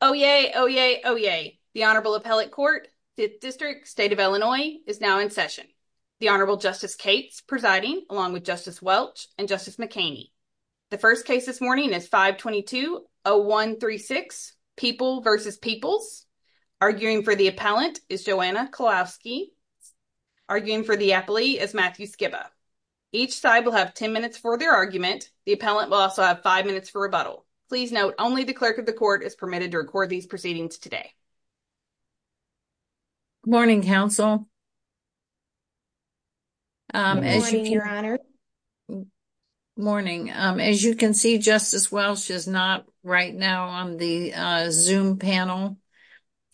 Oh yay, oh yay, oh yay! The Honorable Appellate Court, 5th District, State of Illinois, is now in session. The Honorable Justice Cates presiding, along with Justice Welch and Justice McKaney. The first case this morning is 522-0136, People v. Peoples. Arguing for the appellant is Joanna Kowalski. Arguing for the appellee is Matthew Skiba. Each side will have 10 minutes for their argument. The appellant will also have five minutes for rebuttal. Please note, only the clerk of the court is permitted to record these proceedings today. Good morning, counsel. Good morning, your honor. Morning. As you can see, Justice Welch is not right now on the Zoom panel,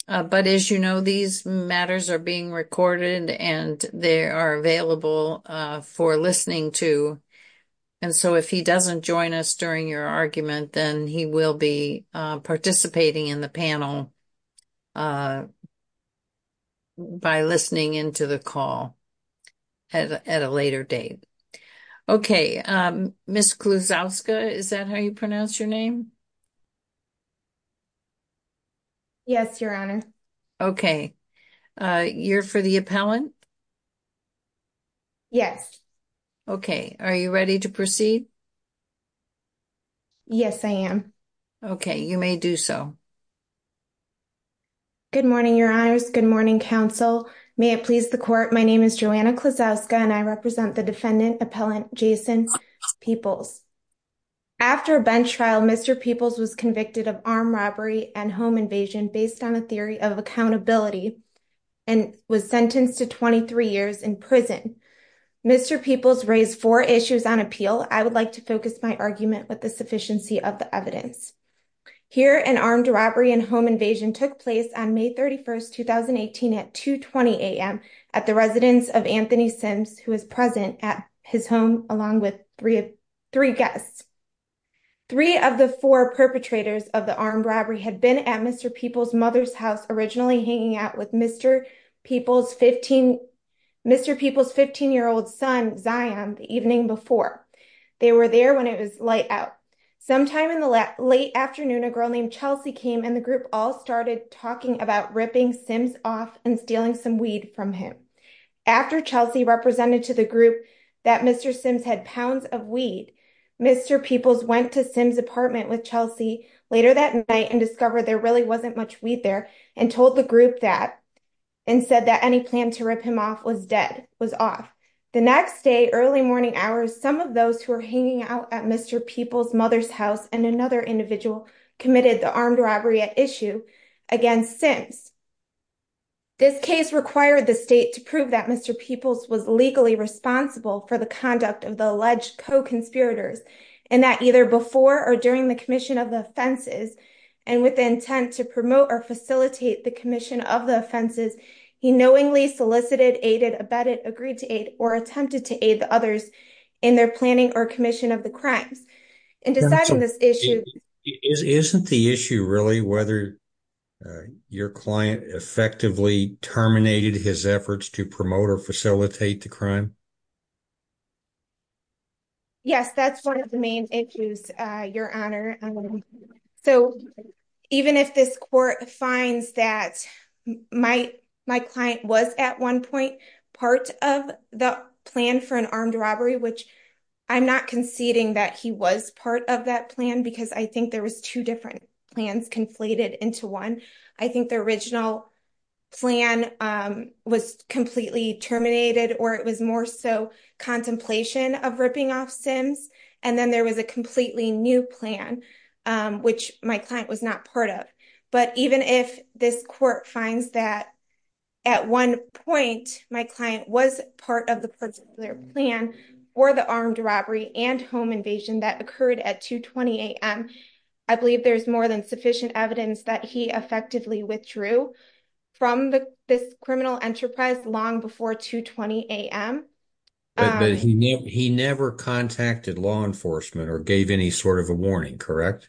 but as you know, these matters are being recorded and they are available for listening to, and so if he doesn't join us during your argument, then he will be participating in the panel by listening into the call at a later date. Okay, Ms. Klusowska, is that how you pronounce your name? Yes, your honor. Okay, you're for the appellant? Yes. Okay, are you ready to proceed? Yes, I am. Okay, you may do so. Good morning, your honors. Good morning, counsel. May it please the court, my name is Joanna Klusowska and I represent the defendant, appellant Jason Peoples. After a bench trial, Mr. Peoples was convicted of armed robbery and home invasion based on a theory of accountability and was sentenced to 23 years in prison. Mr. Peoples raised four issues on appeal. I would like to focus my argument with the sufficiency of the evidence. Here, an armed robbery and home invasion took place on May 31st, 2018 at 2 20 a.m. at the residence of Anthony Sims, who was present at his home along with three guests. Three of the four perpetrators of the Mr. Peoples' 15-year-old son, Zion, the evening before. They were there when it was light out. Sometime in the late afternoon, a girl named Chelsea came and the group all started talking about ripping Sims off and stealing some weed from him. After Chelsea represented to the group that Mr. Sims had pounds of weed, Mr. Peoples went to Sims' apartment with Chelsea later that night and discovered there really wasn't much weed there and told the group that and said that any plan to rip him off was dead, was off. The next day, early morning hours, some of those who were hanging out at Mr. Peoples' mother's house and another individual committed the armed robbery at issue against Sims. This case required the state to prove that Mr. Peoples was legally responsible for the conduct of the alleged co-conspirators and that either before or during the commission of the offenses and with the intent to promote or facilitate the commission of the offenses, he knowingly solicited, aided, abetted, agreed to aid, or attempted to aid the others in their planning or commission of the crimes. In deciding this issue... Isn't the issue really whether your client effectively terminated his efforts to promote or facilitate the crime? Yes, that's one of the main issues, Your Honor. So even if this court finds that my client was at one point part of the plan for an armed robbery, which I'm not conceding that he was part of that plan because I think there was two different plans conflated into one. I think the original plan was completely terminated or it was more so contemplation of ripping off Sims. And then there was a completely new plan, which my client was not part of. But even if this court finds that at one point, my client was part of the particular plan or the armed robbery and home invasion that occurred at 2.20 a.m., I believe there's more than sufficient evidence that he effectively withdrew from this criminal enterprise long before 2.20 a.m. But he never contacted law enforcement or gave any sort of a warning, correct?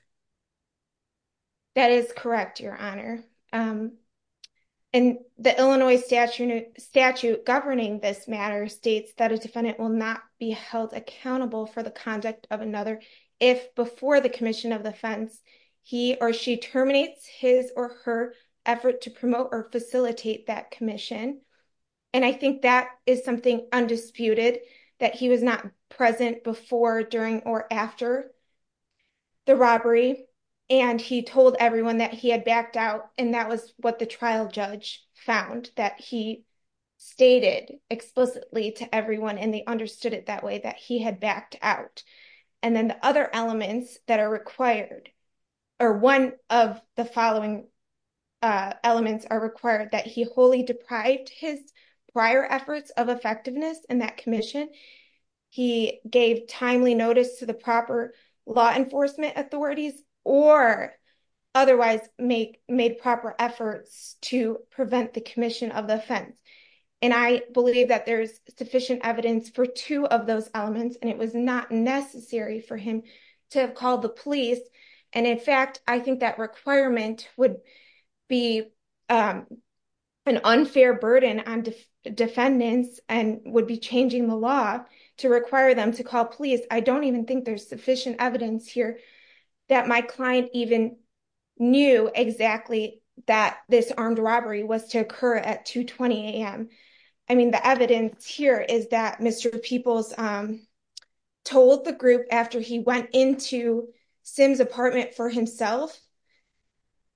That is correct, Your Honor. And the Illinois statute governing this matter states that a defendant will not be held accountable for the conduct of another if before the commission of offense, he or she terminates his or her effort to promote or facilitate that commission. And I think that is something undisputed, that he was not present before, during or after the robbery. And he told everyone that he had backed out. And that was what the trial judge found that he stated explicitly to everyone. And they understood it that way that he had backed out. And then the other elements that are required or one of the following elements are required that he wholly deprived his prior efforts of effectiveness in that commission. He gave timely notice to the proper law enforcement authorities or otherwise made proper efforts to prevent the commission of the offense. And I believe that there's sufficient evidence for two of those elements. And it was not necessary for him to have called the police. And in fact, I think that requirement would be an unfair burden on defendants and would be changing the law to require them to call police. I don't even think there's sufficient evidence here that my client even knew exactly that this armed robbery was to occur at 2.20 a.m. I mean, the evidence here is that Mr. Peoples told the group after he went into Simms' apartment for himself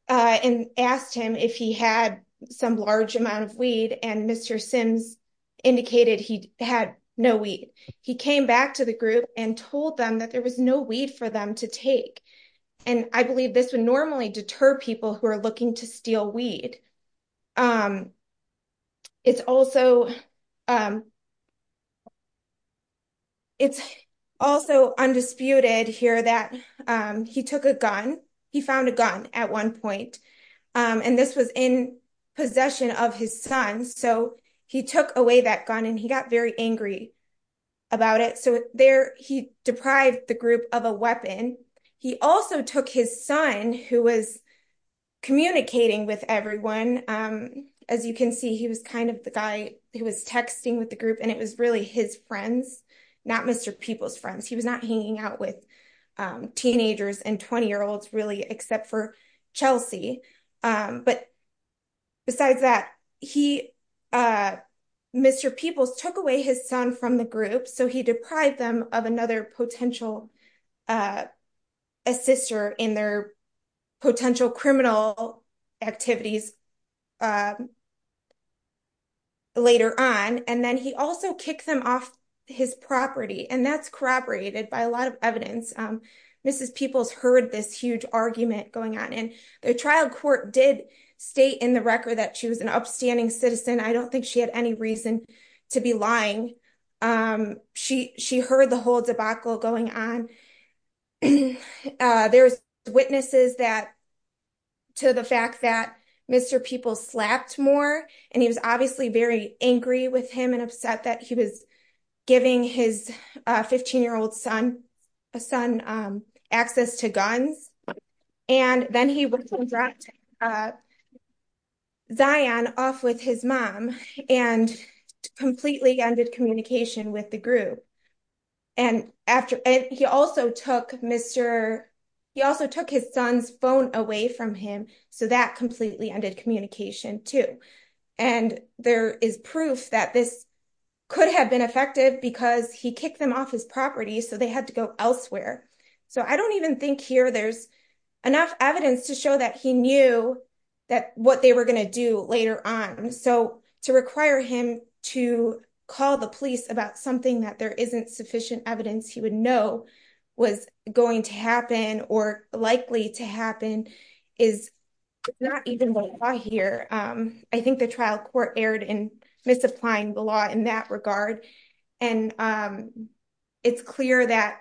and asked him if he had some large amount of weed. And Mr. Simms indicated he had no weed. He came back to the group and told them that there was no weed for them to take. And I believe this would normally deter people who are looking to steal weed. It's also undisputed here that he took a gun. He found a gun at one point. And this was in possession of his son. So he took away that gun and he got very angry about it. So there he deprived the group of a weapon. He also took his son, who was communicating with everyone. As you can see, he was kind of the guy who was texting with the group. And it was really his friends, not Mr. Peoples' friends. He was not hanging out with teenagers and 20-year-olds, really, except for Chelsea. But besides that, Mr. Peoples took away his son from the group. So he deprived them of another potential assister in their potential criminal activities later on. And then he also kicked them off his property. And that's corroborated by a lot of evidence. Mrs. Peoples heard this huge argument going on. And the trial court did state in the record that she was an upstanding citizen. I don't think she had any reason to be lying. She heard the whole debacle going on. There's witnesses to the fact that Mr. Peoples slapped more. And he was obviously very angry with him and upset that he was giving his 15-year-old son access to guns. And then he went and dropped Zion off with his mom and completely ended communication with the group. And he also took his son's phone away from him. So that completely ended communication, too. And there is proof that this could have been effective because he kicked them off his property. So they had to go elsewhere. So I don't even think here there's enough evidence to show that he knew that what they were going to do later on. So to require him to call the police about something that there isn't sufficient evidence he would know was going to happen or likely to happen is not even what I hear. I think the trial court erred in misapplying the law in that regard. And it's clear that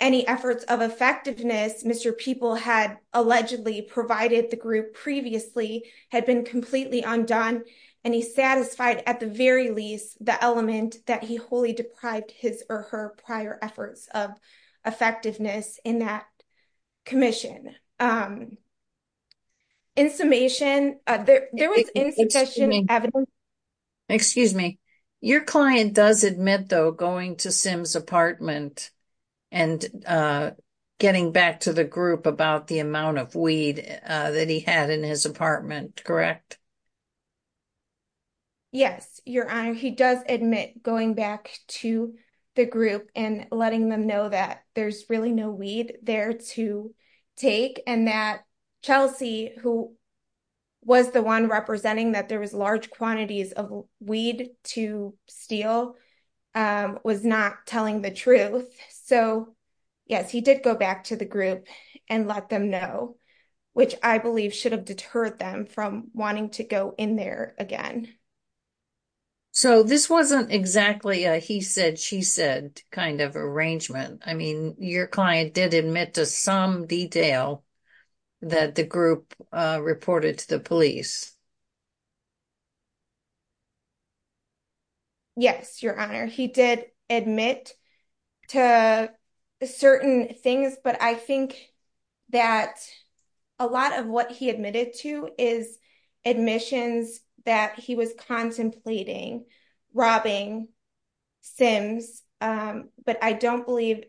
any efforts of effectiveness Mr. Peoples had allegedly provided the group previously had been completely undone. And he satisfied at the very least the element that he wholly deprived his or her prior efforts of effectiveness in that commission. In summation, there was insufficient evidence. Excuse me. Your client does admit, though, going to Sim's apartment and getting back to the group about the amount of weed that he had in his apartment, correct? Yes, Your Honor. He does admit going back to the group and letting them know that there's really no weed there to take. And that Chelsea, who was the one representing that there was large quantities of weed to steal, was not telling the truth. So, yes, he did go back to the group and let them know, which I believe should have deterred them from wanting to go in there again. So this wasn't exactly a he said, she said kind of arrangement. I mean, your client did admit to some detail that the group reported to the police. Yes, Your Honor. He did admit to certain things, but I think that a lot of what he admitted to is admissions that he was contemplating robbing Sims. But I don't believe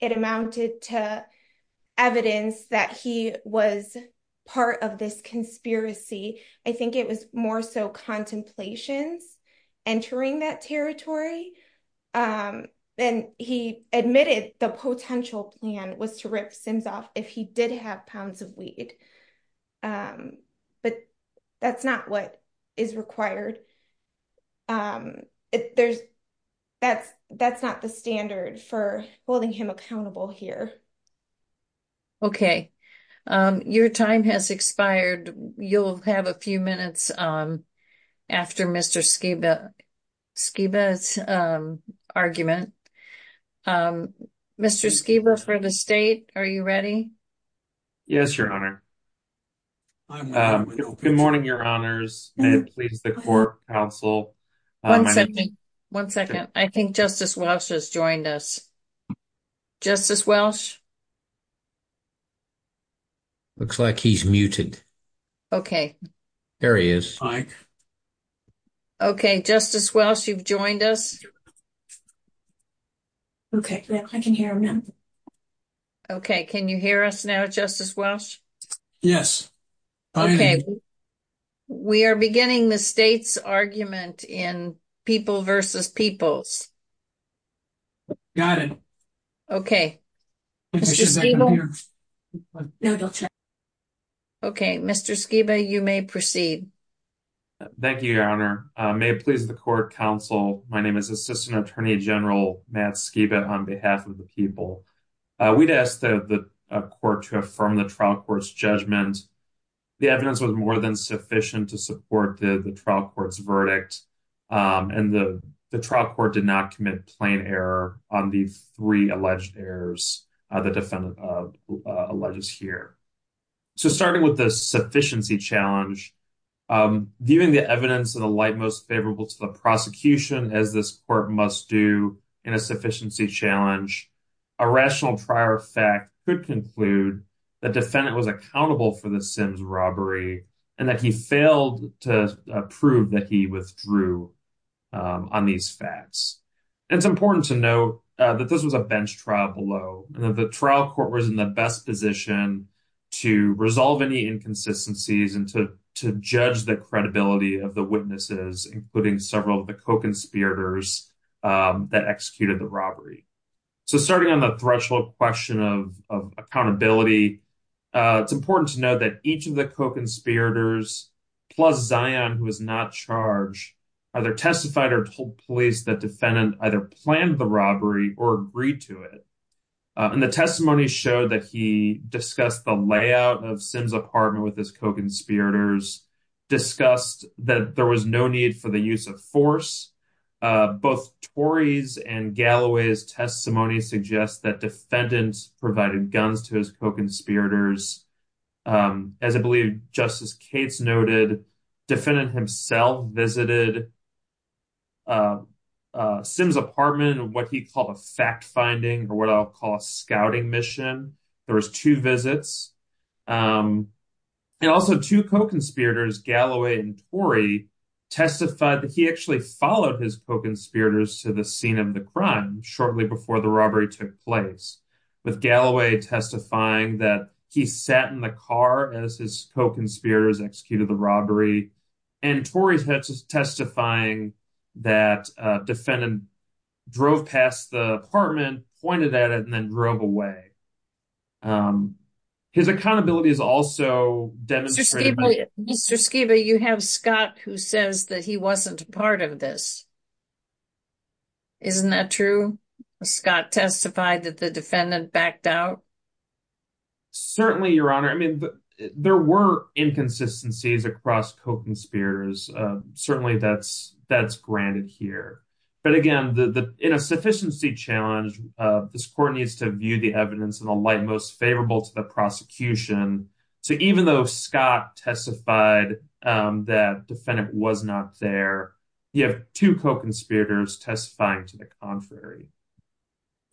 it amounted to evidence that he was part of this conspiracy. I think it was more so contemplations entering that territory. Then he admitted the potential plan was to rip Sims off if he did have pounds of weed. Um, but that's not what is required. Um, there's that's that's not the standard for holding him accountable here. Okay, your time has expired. You'll have a few minutes after Mr. Skiba argument. Mr. Skiba for the state. Are you ready? Yes, Your Honor. Good morning. Your honors and please the court counsel. One second. I think Justice Welch has joined us. Justice Welch. Looks like he's muted. Okay, there he is. Okay, Justice Welch, you've joined us. Okay, I can hear him now. Okay, can you hear us now? Justice Welch? Yes. Okay, we are beginning the state's argument in people versus peoples. Got it. Okay, Mr. Skiba, you may proceed. Thank you, Your Honor. May it please the court counsel. My name is Assistant Attorney General Matt Skiba on behalf of the people. We'd asked the court to affirm the trial court's judgment. The evidence was more than sufficient to support the trial court's verdict. And the trial court did not commit plain error on the three alleged errors. The defendant alleges here. So starting with the sufficiency challenge, viewing the evidence in the light most favorable to the prosecution as this court must do in a sufficiency challenge. A rational prior fact could conclude the defendant was accountable for the Sims robbery and that he failed to prove that he withdrew on these facts. It's important to note that this was a bench trial below, and that the trial court was in the best position to resolve any inconsistencies and to judge the credibility of the witnesses, including several of the co-conspirators that executed the robbery. So starting on the threshold question of accountability, it's important to know that each of the co-conspirators, plus Zion, who was not charged, either testified or told police that defendant either planned the robbery or agreed to it. And the testimony showed that he discussed the layout of Sims apartment with his co-conspirators, discussed that there was no need for the use of force. Both Torey's and Galloway's testimony suggests that defendants provided guns to his co-conspirators. As I believe Justice Cates noted, defendant himself visited Sims apartment in what he called a fact-finding or what I'll call a scouting mission. There was two visits. And also two co-conspirators, Galloway and Torey, testified that he actually followed his co-conspirators to the scene of the crime shortly before the robbery took place, with Galloway testifying that he sat in the car as his co-conspirators executed the robbery, and Torey testifying that a defendant drove past the apartment, pointed at it, and then drove away. His accountability is also demonstrated by- Mr. Skiba, you have Scott who says that he wasn't part of this. Isn't that true? Scott testified that the defendant backed out? Certainly, Your Honor. I mean, there were inconsistencies across co-conspirators. Certainly, that's granted here. But again, in a sufficiency challenge, this court needs to view the evidence in a light most favorable to the prosecution. So even though Scott testified that the defendant was not there, you have two co-conspirators testifying to the contrary.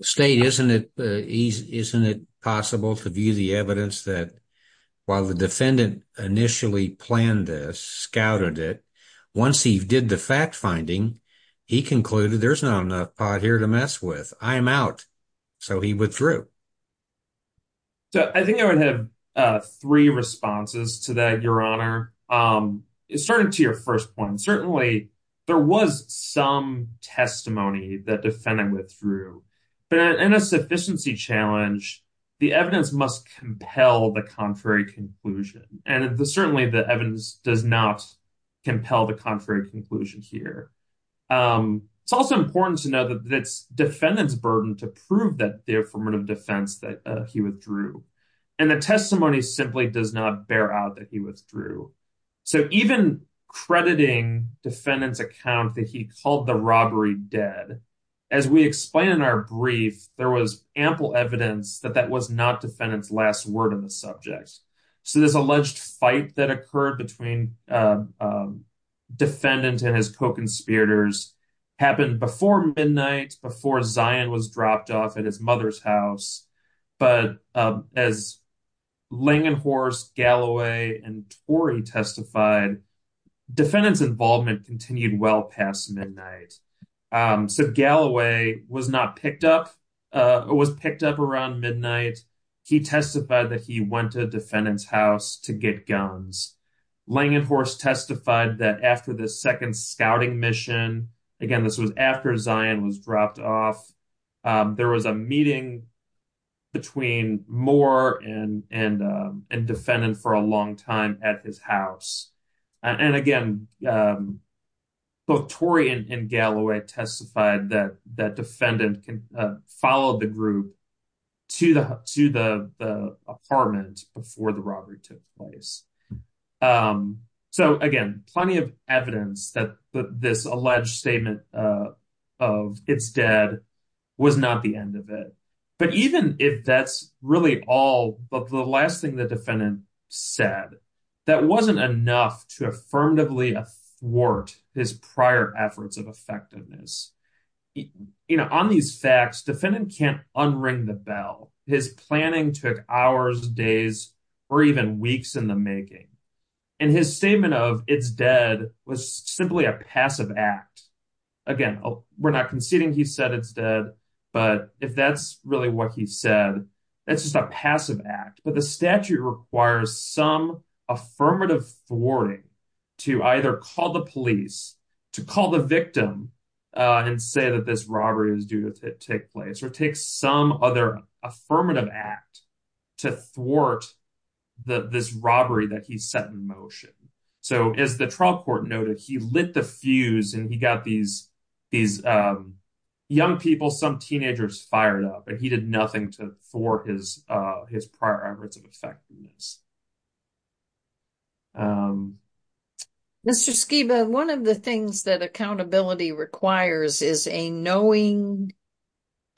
State, isn't it possible to view the evidence that while the defendant initially planned this, scouted it, once he did the fact-finding, he concluded there's not enough pot here to mess with. I'm out. So he withdrew. So I think I would have three responses to that, Your Honor. Starting to your first point, certainly, there was some testimony that defendant withdrew. But in a sufficiency challenge, the evidence must compel the contrary conclusion. And certainly, the evidence does not compel the contrary conclusion here. It's also important to know that it's defendant's burden to prove that the affirmative defense that he withdrew. And the testimony simply does not bear out that he withdrew. So even crediting defendant's account that he called the robbery dead, as we explained in our brief, there was ample evidence that that was not defendant's last word on the subject. So this alleged fight that occurred between defendant and his co-conspirators happened before midnight, before Zion was dropped off at his mother's house. But as Langenhorst, Galloway, and Torrey testified, defendant's involvement continued well past midnight. So Galloway was not picked up, was picked up around midnight. He testified that he went to defendant's house to get guns. Langenhorst testified that after the second scouting mission, again, this was after Zion was dropped off, there was a meeting between Moore and defendant for a long time at his house. And again, both Torrey and Galloway testified that defendant followed the group to the apartment before the robbery took place. So again, plenty of evidence that this alleged statement of it's dead was not the end of it. But even if that's really all, but the last thing that defendant said, that wasn't enough to affirmatively thwart his prior efforts of effectiveness. You know, on these facts, defendant can't unring the bell. His planning took hours, days, or even weeks in the making. And his statement of it's dead was simply a passive act. Again, we're not conceding he said it's dead, but if that's really what he said, that's just a passive act. But the statute requires some affirmative thwarting to either call the police, to call the victim and say that this robbery is due to take place or take some other affirmative act to thwart this robbery that he set in motion. So as the trial court noted, he lit the fuse and he got these young people, some teenagers fired up, but he did nothing to thwart his prior efforts of effectiveness. Mr. Skiba, one of the things that accountability requires is a knowing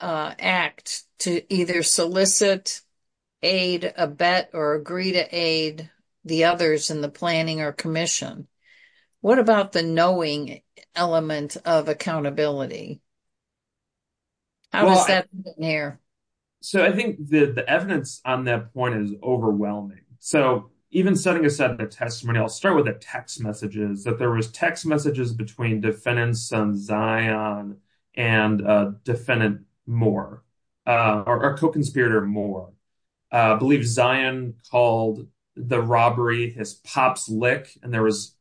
act to either solicit, aid, abet, or agree to aid the others in the planning or commission. What about the knowing element of accountability? How is that near? So I think the evidence on that point is overwhelming. So even setting aside the testimony, I'll start with the text messages, that there was text messages between defendant's son, Zion, and defendant Moore, or co-conspirator Moore. I believe Zion called the robbery his pop's lick. And there was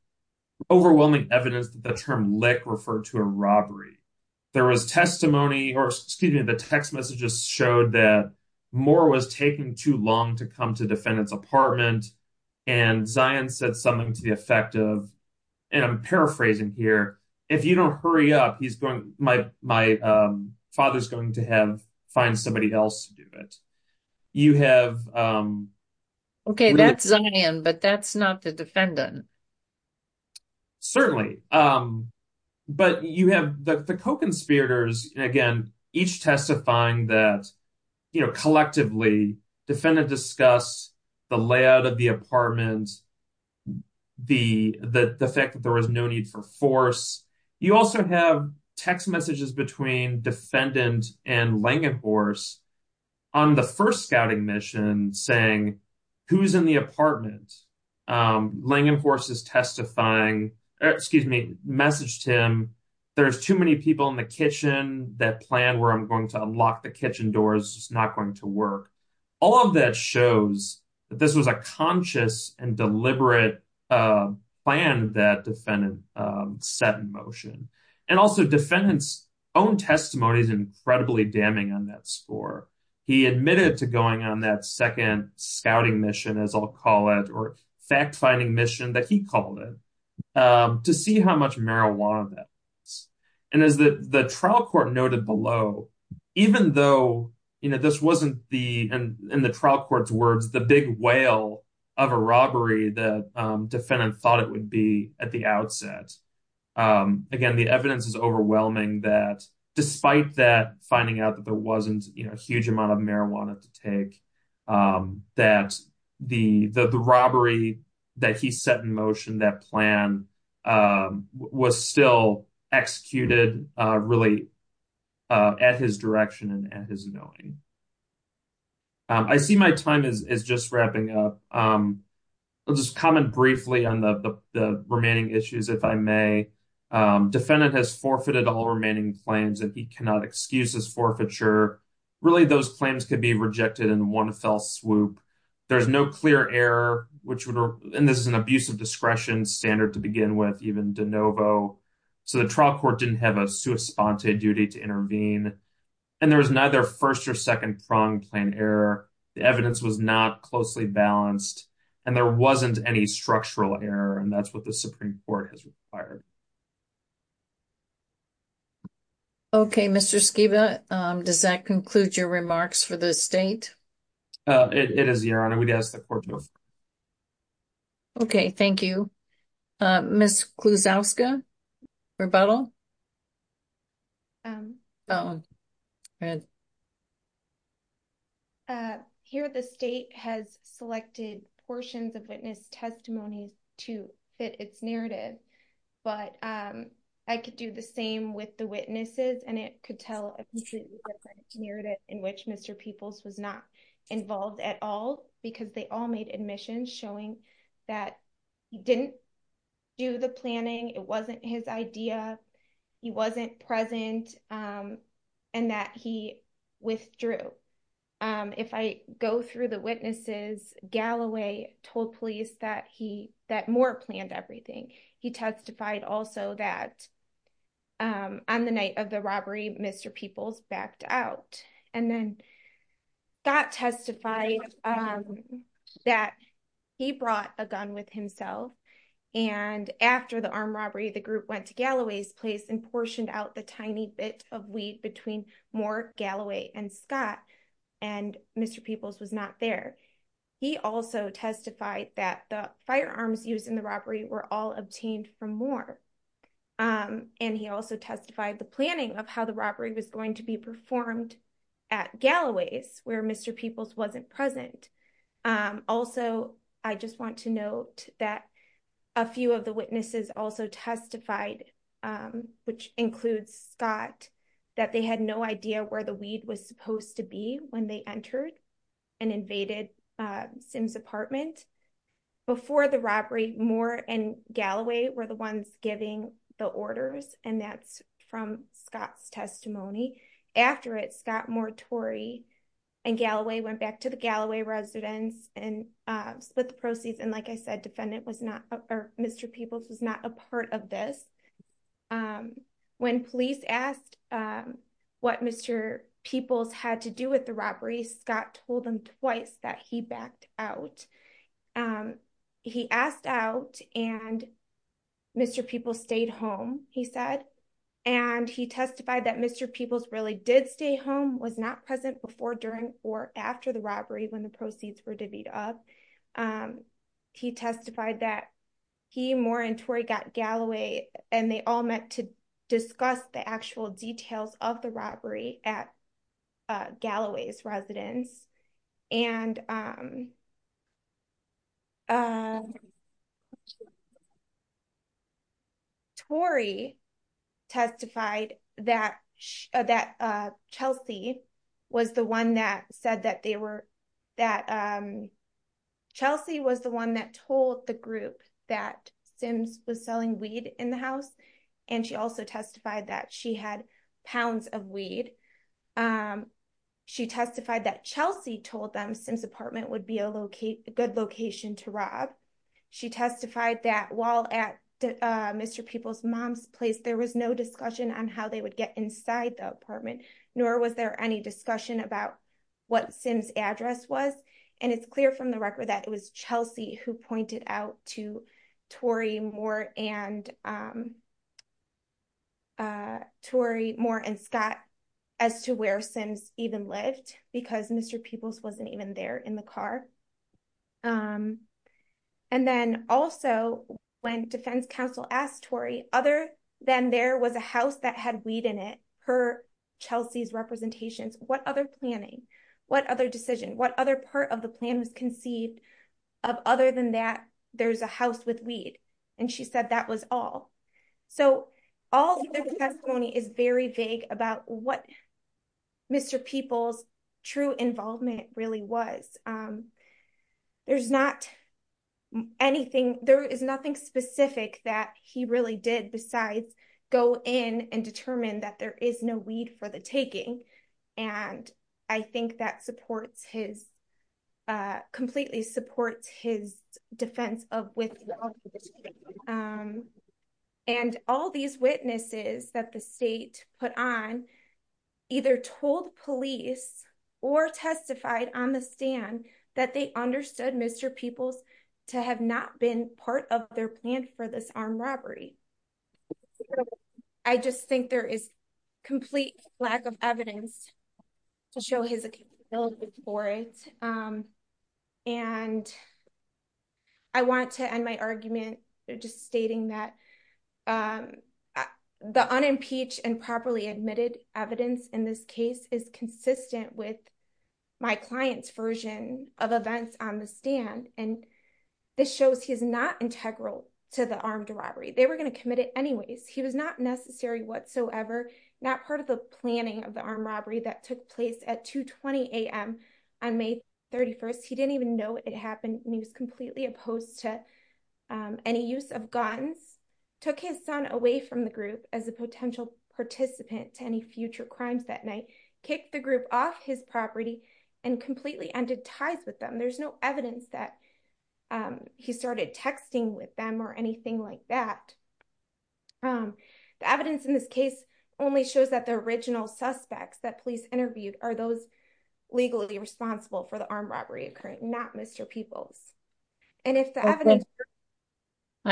overwhelming evidence that the term lick referred to a robbery. There was testimony, or excuse me, the text messages showed that Moore was taking too long to come to defendant's apartment. And Zion said something to the effect of, and I'm paraphrasing here, if you don't hurry up, my father's going to find somebody else to do it. You have- Okay, that's Zion, but that's not the defendant. Certainly. But you have the co-conspirators, again, each testifying that collectively, defendant discussed the layout of the apartment, the fact that there was no need for force. You also have text messages between defendant and Langenhorst on the first scouting mission saying, who's in the apartment? Langenhorst is testifying, or excuse me, messaged him, there's too many people in the kitchen, that plan where I'm going to unlock the kitchen door is not going to work. All of that shows that this was a conscious and deliberate plan that defendant set in motion. And also defendant's own testimony is incredibly damning on that score. He admitted to going on that second scouting mission, as I'll call it, or fact finding mission that he called it, to see how much marijuana that was. And as the trial court noted below, even though this wasn't the, in the trial court's words, the big whale of a robbery that defendant thought it would be at the outset. Again, the evidence is overwhelming that despite that finding out that there wasn't a huge amount of marijuana to take, that the robbery that he set in motion, that plan was still executed really at his direction and at his knowing. I see my time is just wrapping up. I'll just comment briefly on the remaining issues, if I may. Defendant has forfeited all remaining claims that he cannot excuse his forfeiture. Really those claims could be rejected in one fell swoop. There's no clear error, which would, and this is an abuse of discretion standard to begin with, even de novo. So the trial court didn't have a sua sponte duty to intervene. And there was neither first or second pronged claim error. The evidence was not closely balanced and there wasn't any structural error. And that's what the Supreme Court has required. Okay, Mr. Skiba, does that conclude your remarks for the state? It is, Your Honor. We'd ask the court to move. Okay, thank you. Ms. Klusowska, rebuttal? Here, the state has selected portions of witness testimonies to fit its narrative, but I could do the same with the witnesses and it could tell a completely different narrative in which Mr. Peoples was not involved at all because they all made admissions showing that he didn't do the It wasn't his idea. He wasn't present and that he withdrew. If I go through the witnesses, Galloway told police that Moore planned everything. He testified also that on the night of the robbery, Mr. Peoples backed out and then got testified that he brought a gun with himself. And after the armed robbery, the group went to Galloway's place and portioned out the tiny bit of weed between Moore, Galloway, and Scott and Mr. Peoples was not there. He also testified that the firearms used in the robbery were all obtained from Moore. And he also testified the planning of how the robbery was going to be performed at Galloway's where Mr. Peoples wasn't present. Also, I just want to note that a few of the witnesses also testified, which includes Scott, that they had no idea where the weed was supposed to be when they entered and invaded Sims apartment. Before the robbery, Moore and Galloway were the ones giving the orders and that's from Scott's testimony. After it, Scott, Moore, Tory, and Galloway went back to the Galloway residence and split the proceeds. And like I said, Mr. Peoples was not a part of this. When police asked what Mr. Peoples had to do with the robbery, Scott told them twice that he backed out. He asked out and Mr. Peoples stayed home, he said. And he testified that Mr. Peoples really did stay home, was not present before, during, or after the robbery when the proceeds were divvied up. He testified that he, Moore, and Tory got Galloway and they all met to discuss the actual details of the robbery at Galloway's residence. And Tory testified that Chelsea was the one that said that they were, that Chelsea was the one that told the group that Sims was selling weed in the house. And she also testified that she had pounds of weed. She testified that Chelsea told them Sims apartment would be a good location to rob. She testified that while at Mr. Peoples' mom's place, there was no discussion on how they would get inside the apartment, nor was there any discussion about what Sims address was. And it's clear from the record that it was Chelsea who pointed out to Tory, Moore, and Scott as to where Sims even lived because Mr. Peoples wasn't even there in the car. And then also when defense counsel asked Tory, other than there was a house that had weed in it, per Chelsea's representations, what other planning, what other decision, what other than that, there's a house with weed. And she said that was all. So all of their testimony is very vague about what Mr. Peoples' true involvement really was. There's not anything, there is nothing specific that he really did besides go in and determine that there is no weed for the taking. And I think that supports his, completely supports his defense of withdrawal. And all these witnesses that the state put on either told police or testified on the stand that they understood Mr. Peoples to have not been part of their plan for this armed robbery. I just think there is complete lack of evidence to show his ability for it. And I want to end my argument just stating that the unimpeached and properly admitted evidence in this case is consistent with my client's version of events on the stand. And this shows he's not integral to the armed robbery. They were going to place at 2.20 a.m. on May 31st. He didn't even know it happened and he was completely opposed to any use of guns. Took his son away from the group as a potential participant to any future crimes that night. Kicked the group off his property and completely ended ties with them. There's no evidence that he started texting with them or anything like that. The evidence in this case only shows that the original suspects that police interviewed are those legally responsible for the armed robbery occurring, not Mr. Peoples. I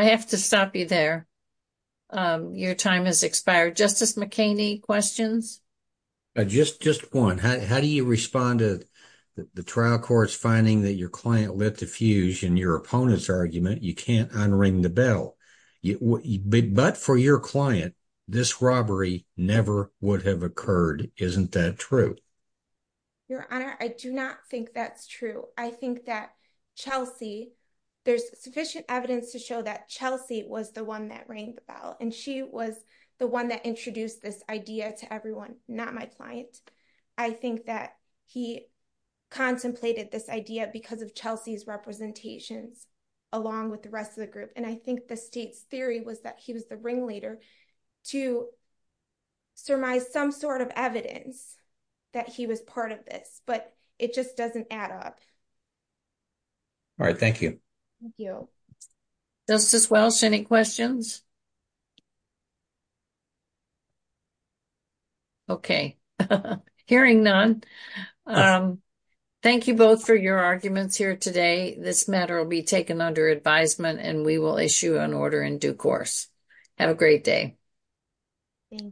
have to stop you there. Your time has expired. Justice McKinney, questions? Just one. How do you respond to the trial court's finding that your client lit the fuse in your argument? You can't unring the bell. But for your client, this robbery never would have occurred. Isn't that true? Your Honor, I do not think that's true. I think that Chelsea, there's sufficient evidence to show that Chelsea was the one that rang the bell and she was the one that introduced this idea to everyone, not my client. I think that he contemplated this idea because of Chelsea's representations along with the rest of the group. I think the state's theory was that he was the ringleader to surmise some sort of evidence that he was part of this. But it just doesn't add up. All right. Thank you. Thank you. Justice Welsh, any questions? Okay. Hearing none. Thank you both for your arguments here today. This matter will be taken under advisement and we will issue an order in due course. Have a great day. Thank you.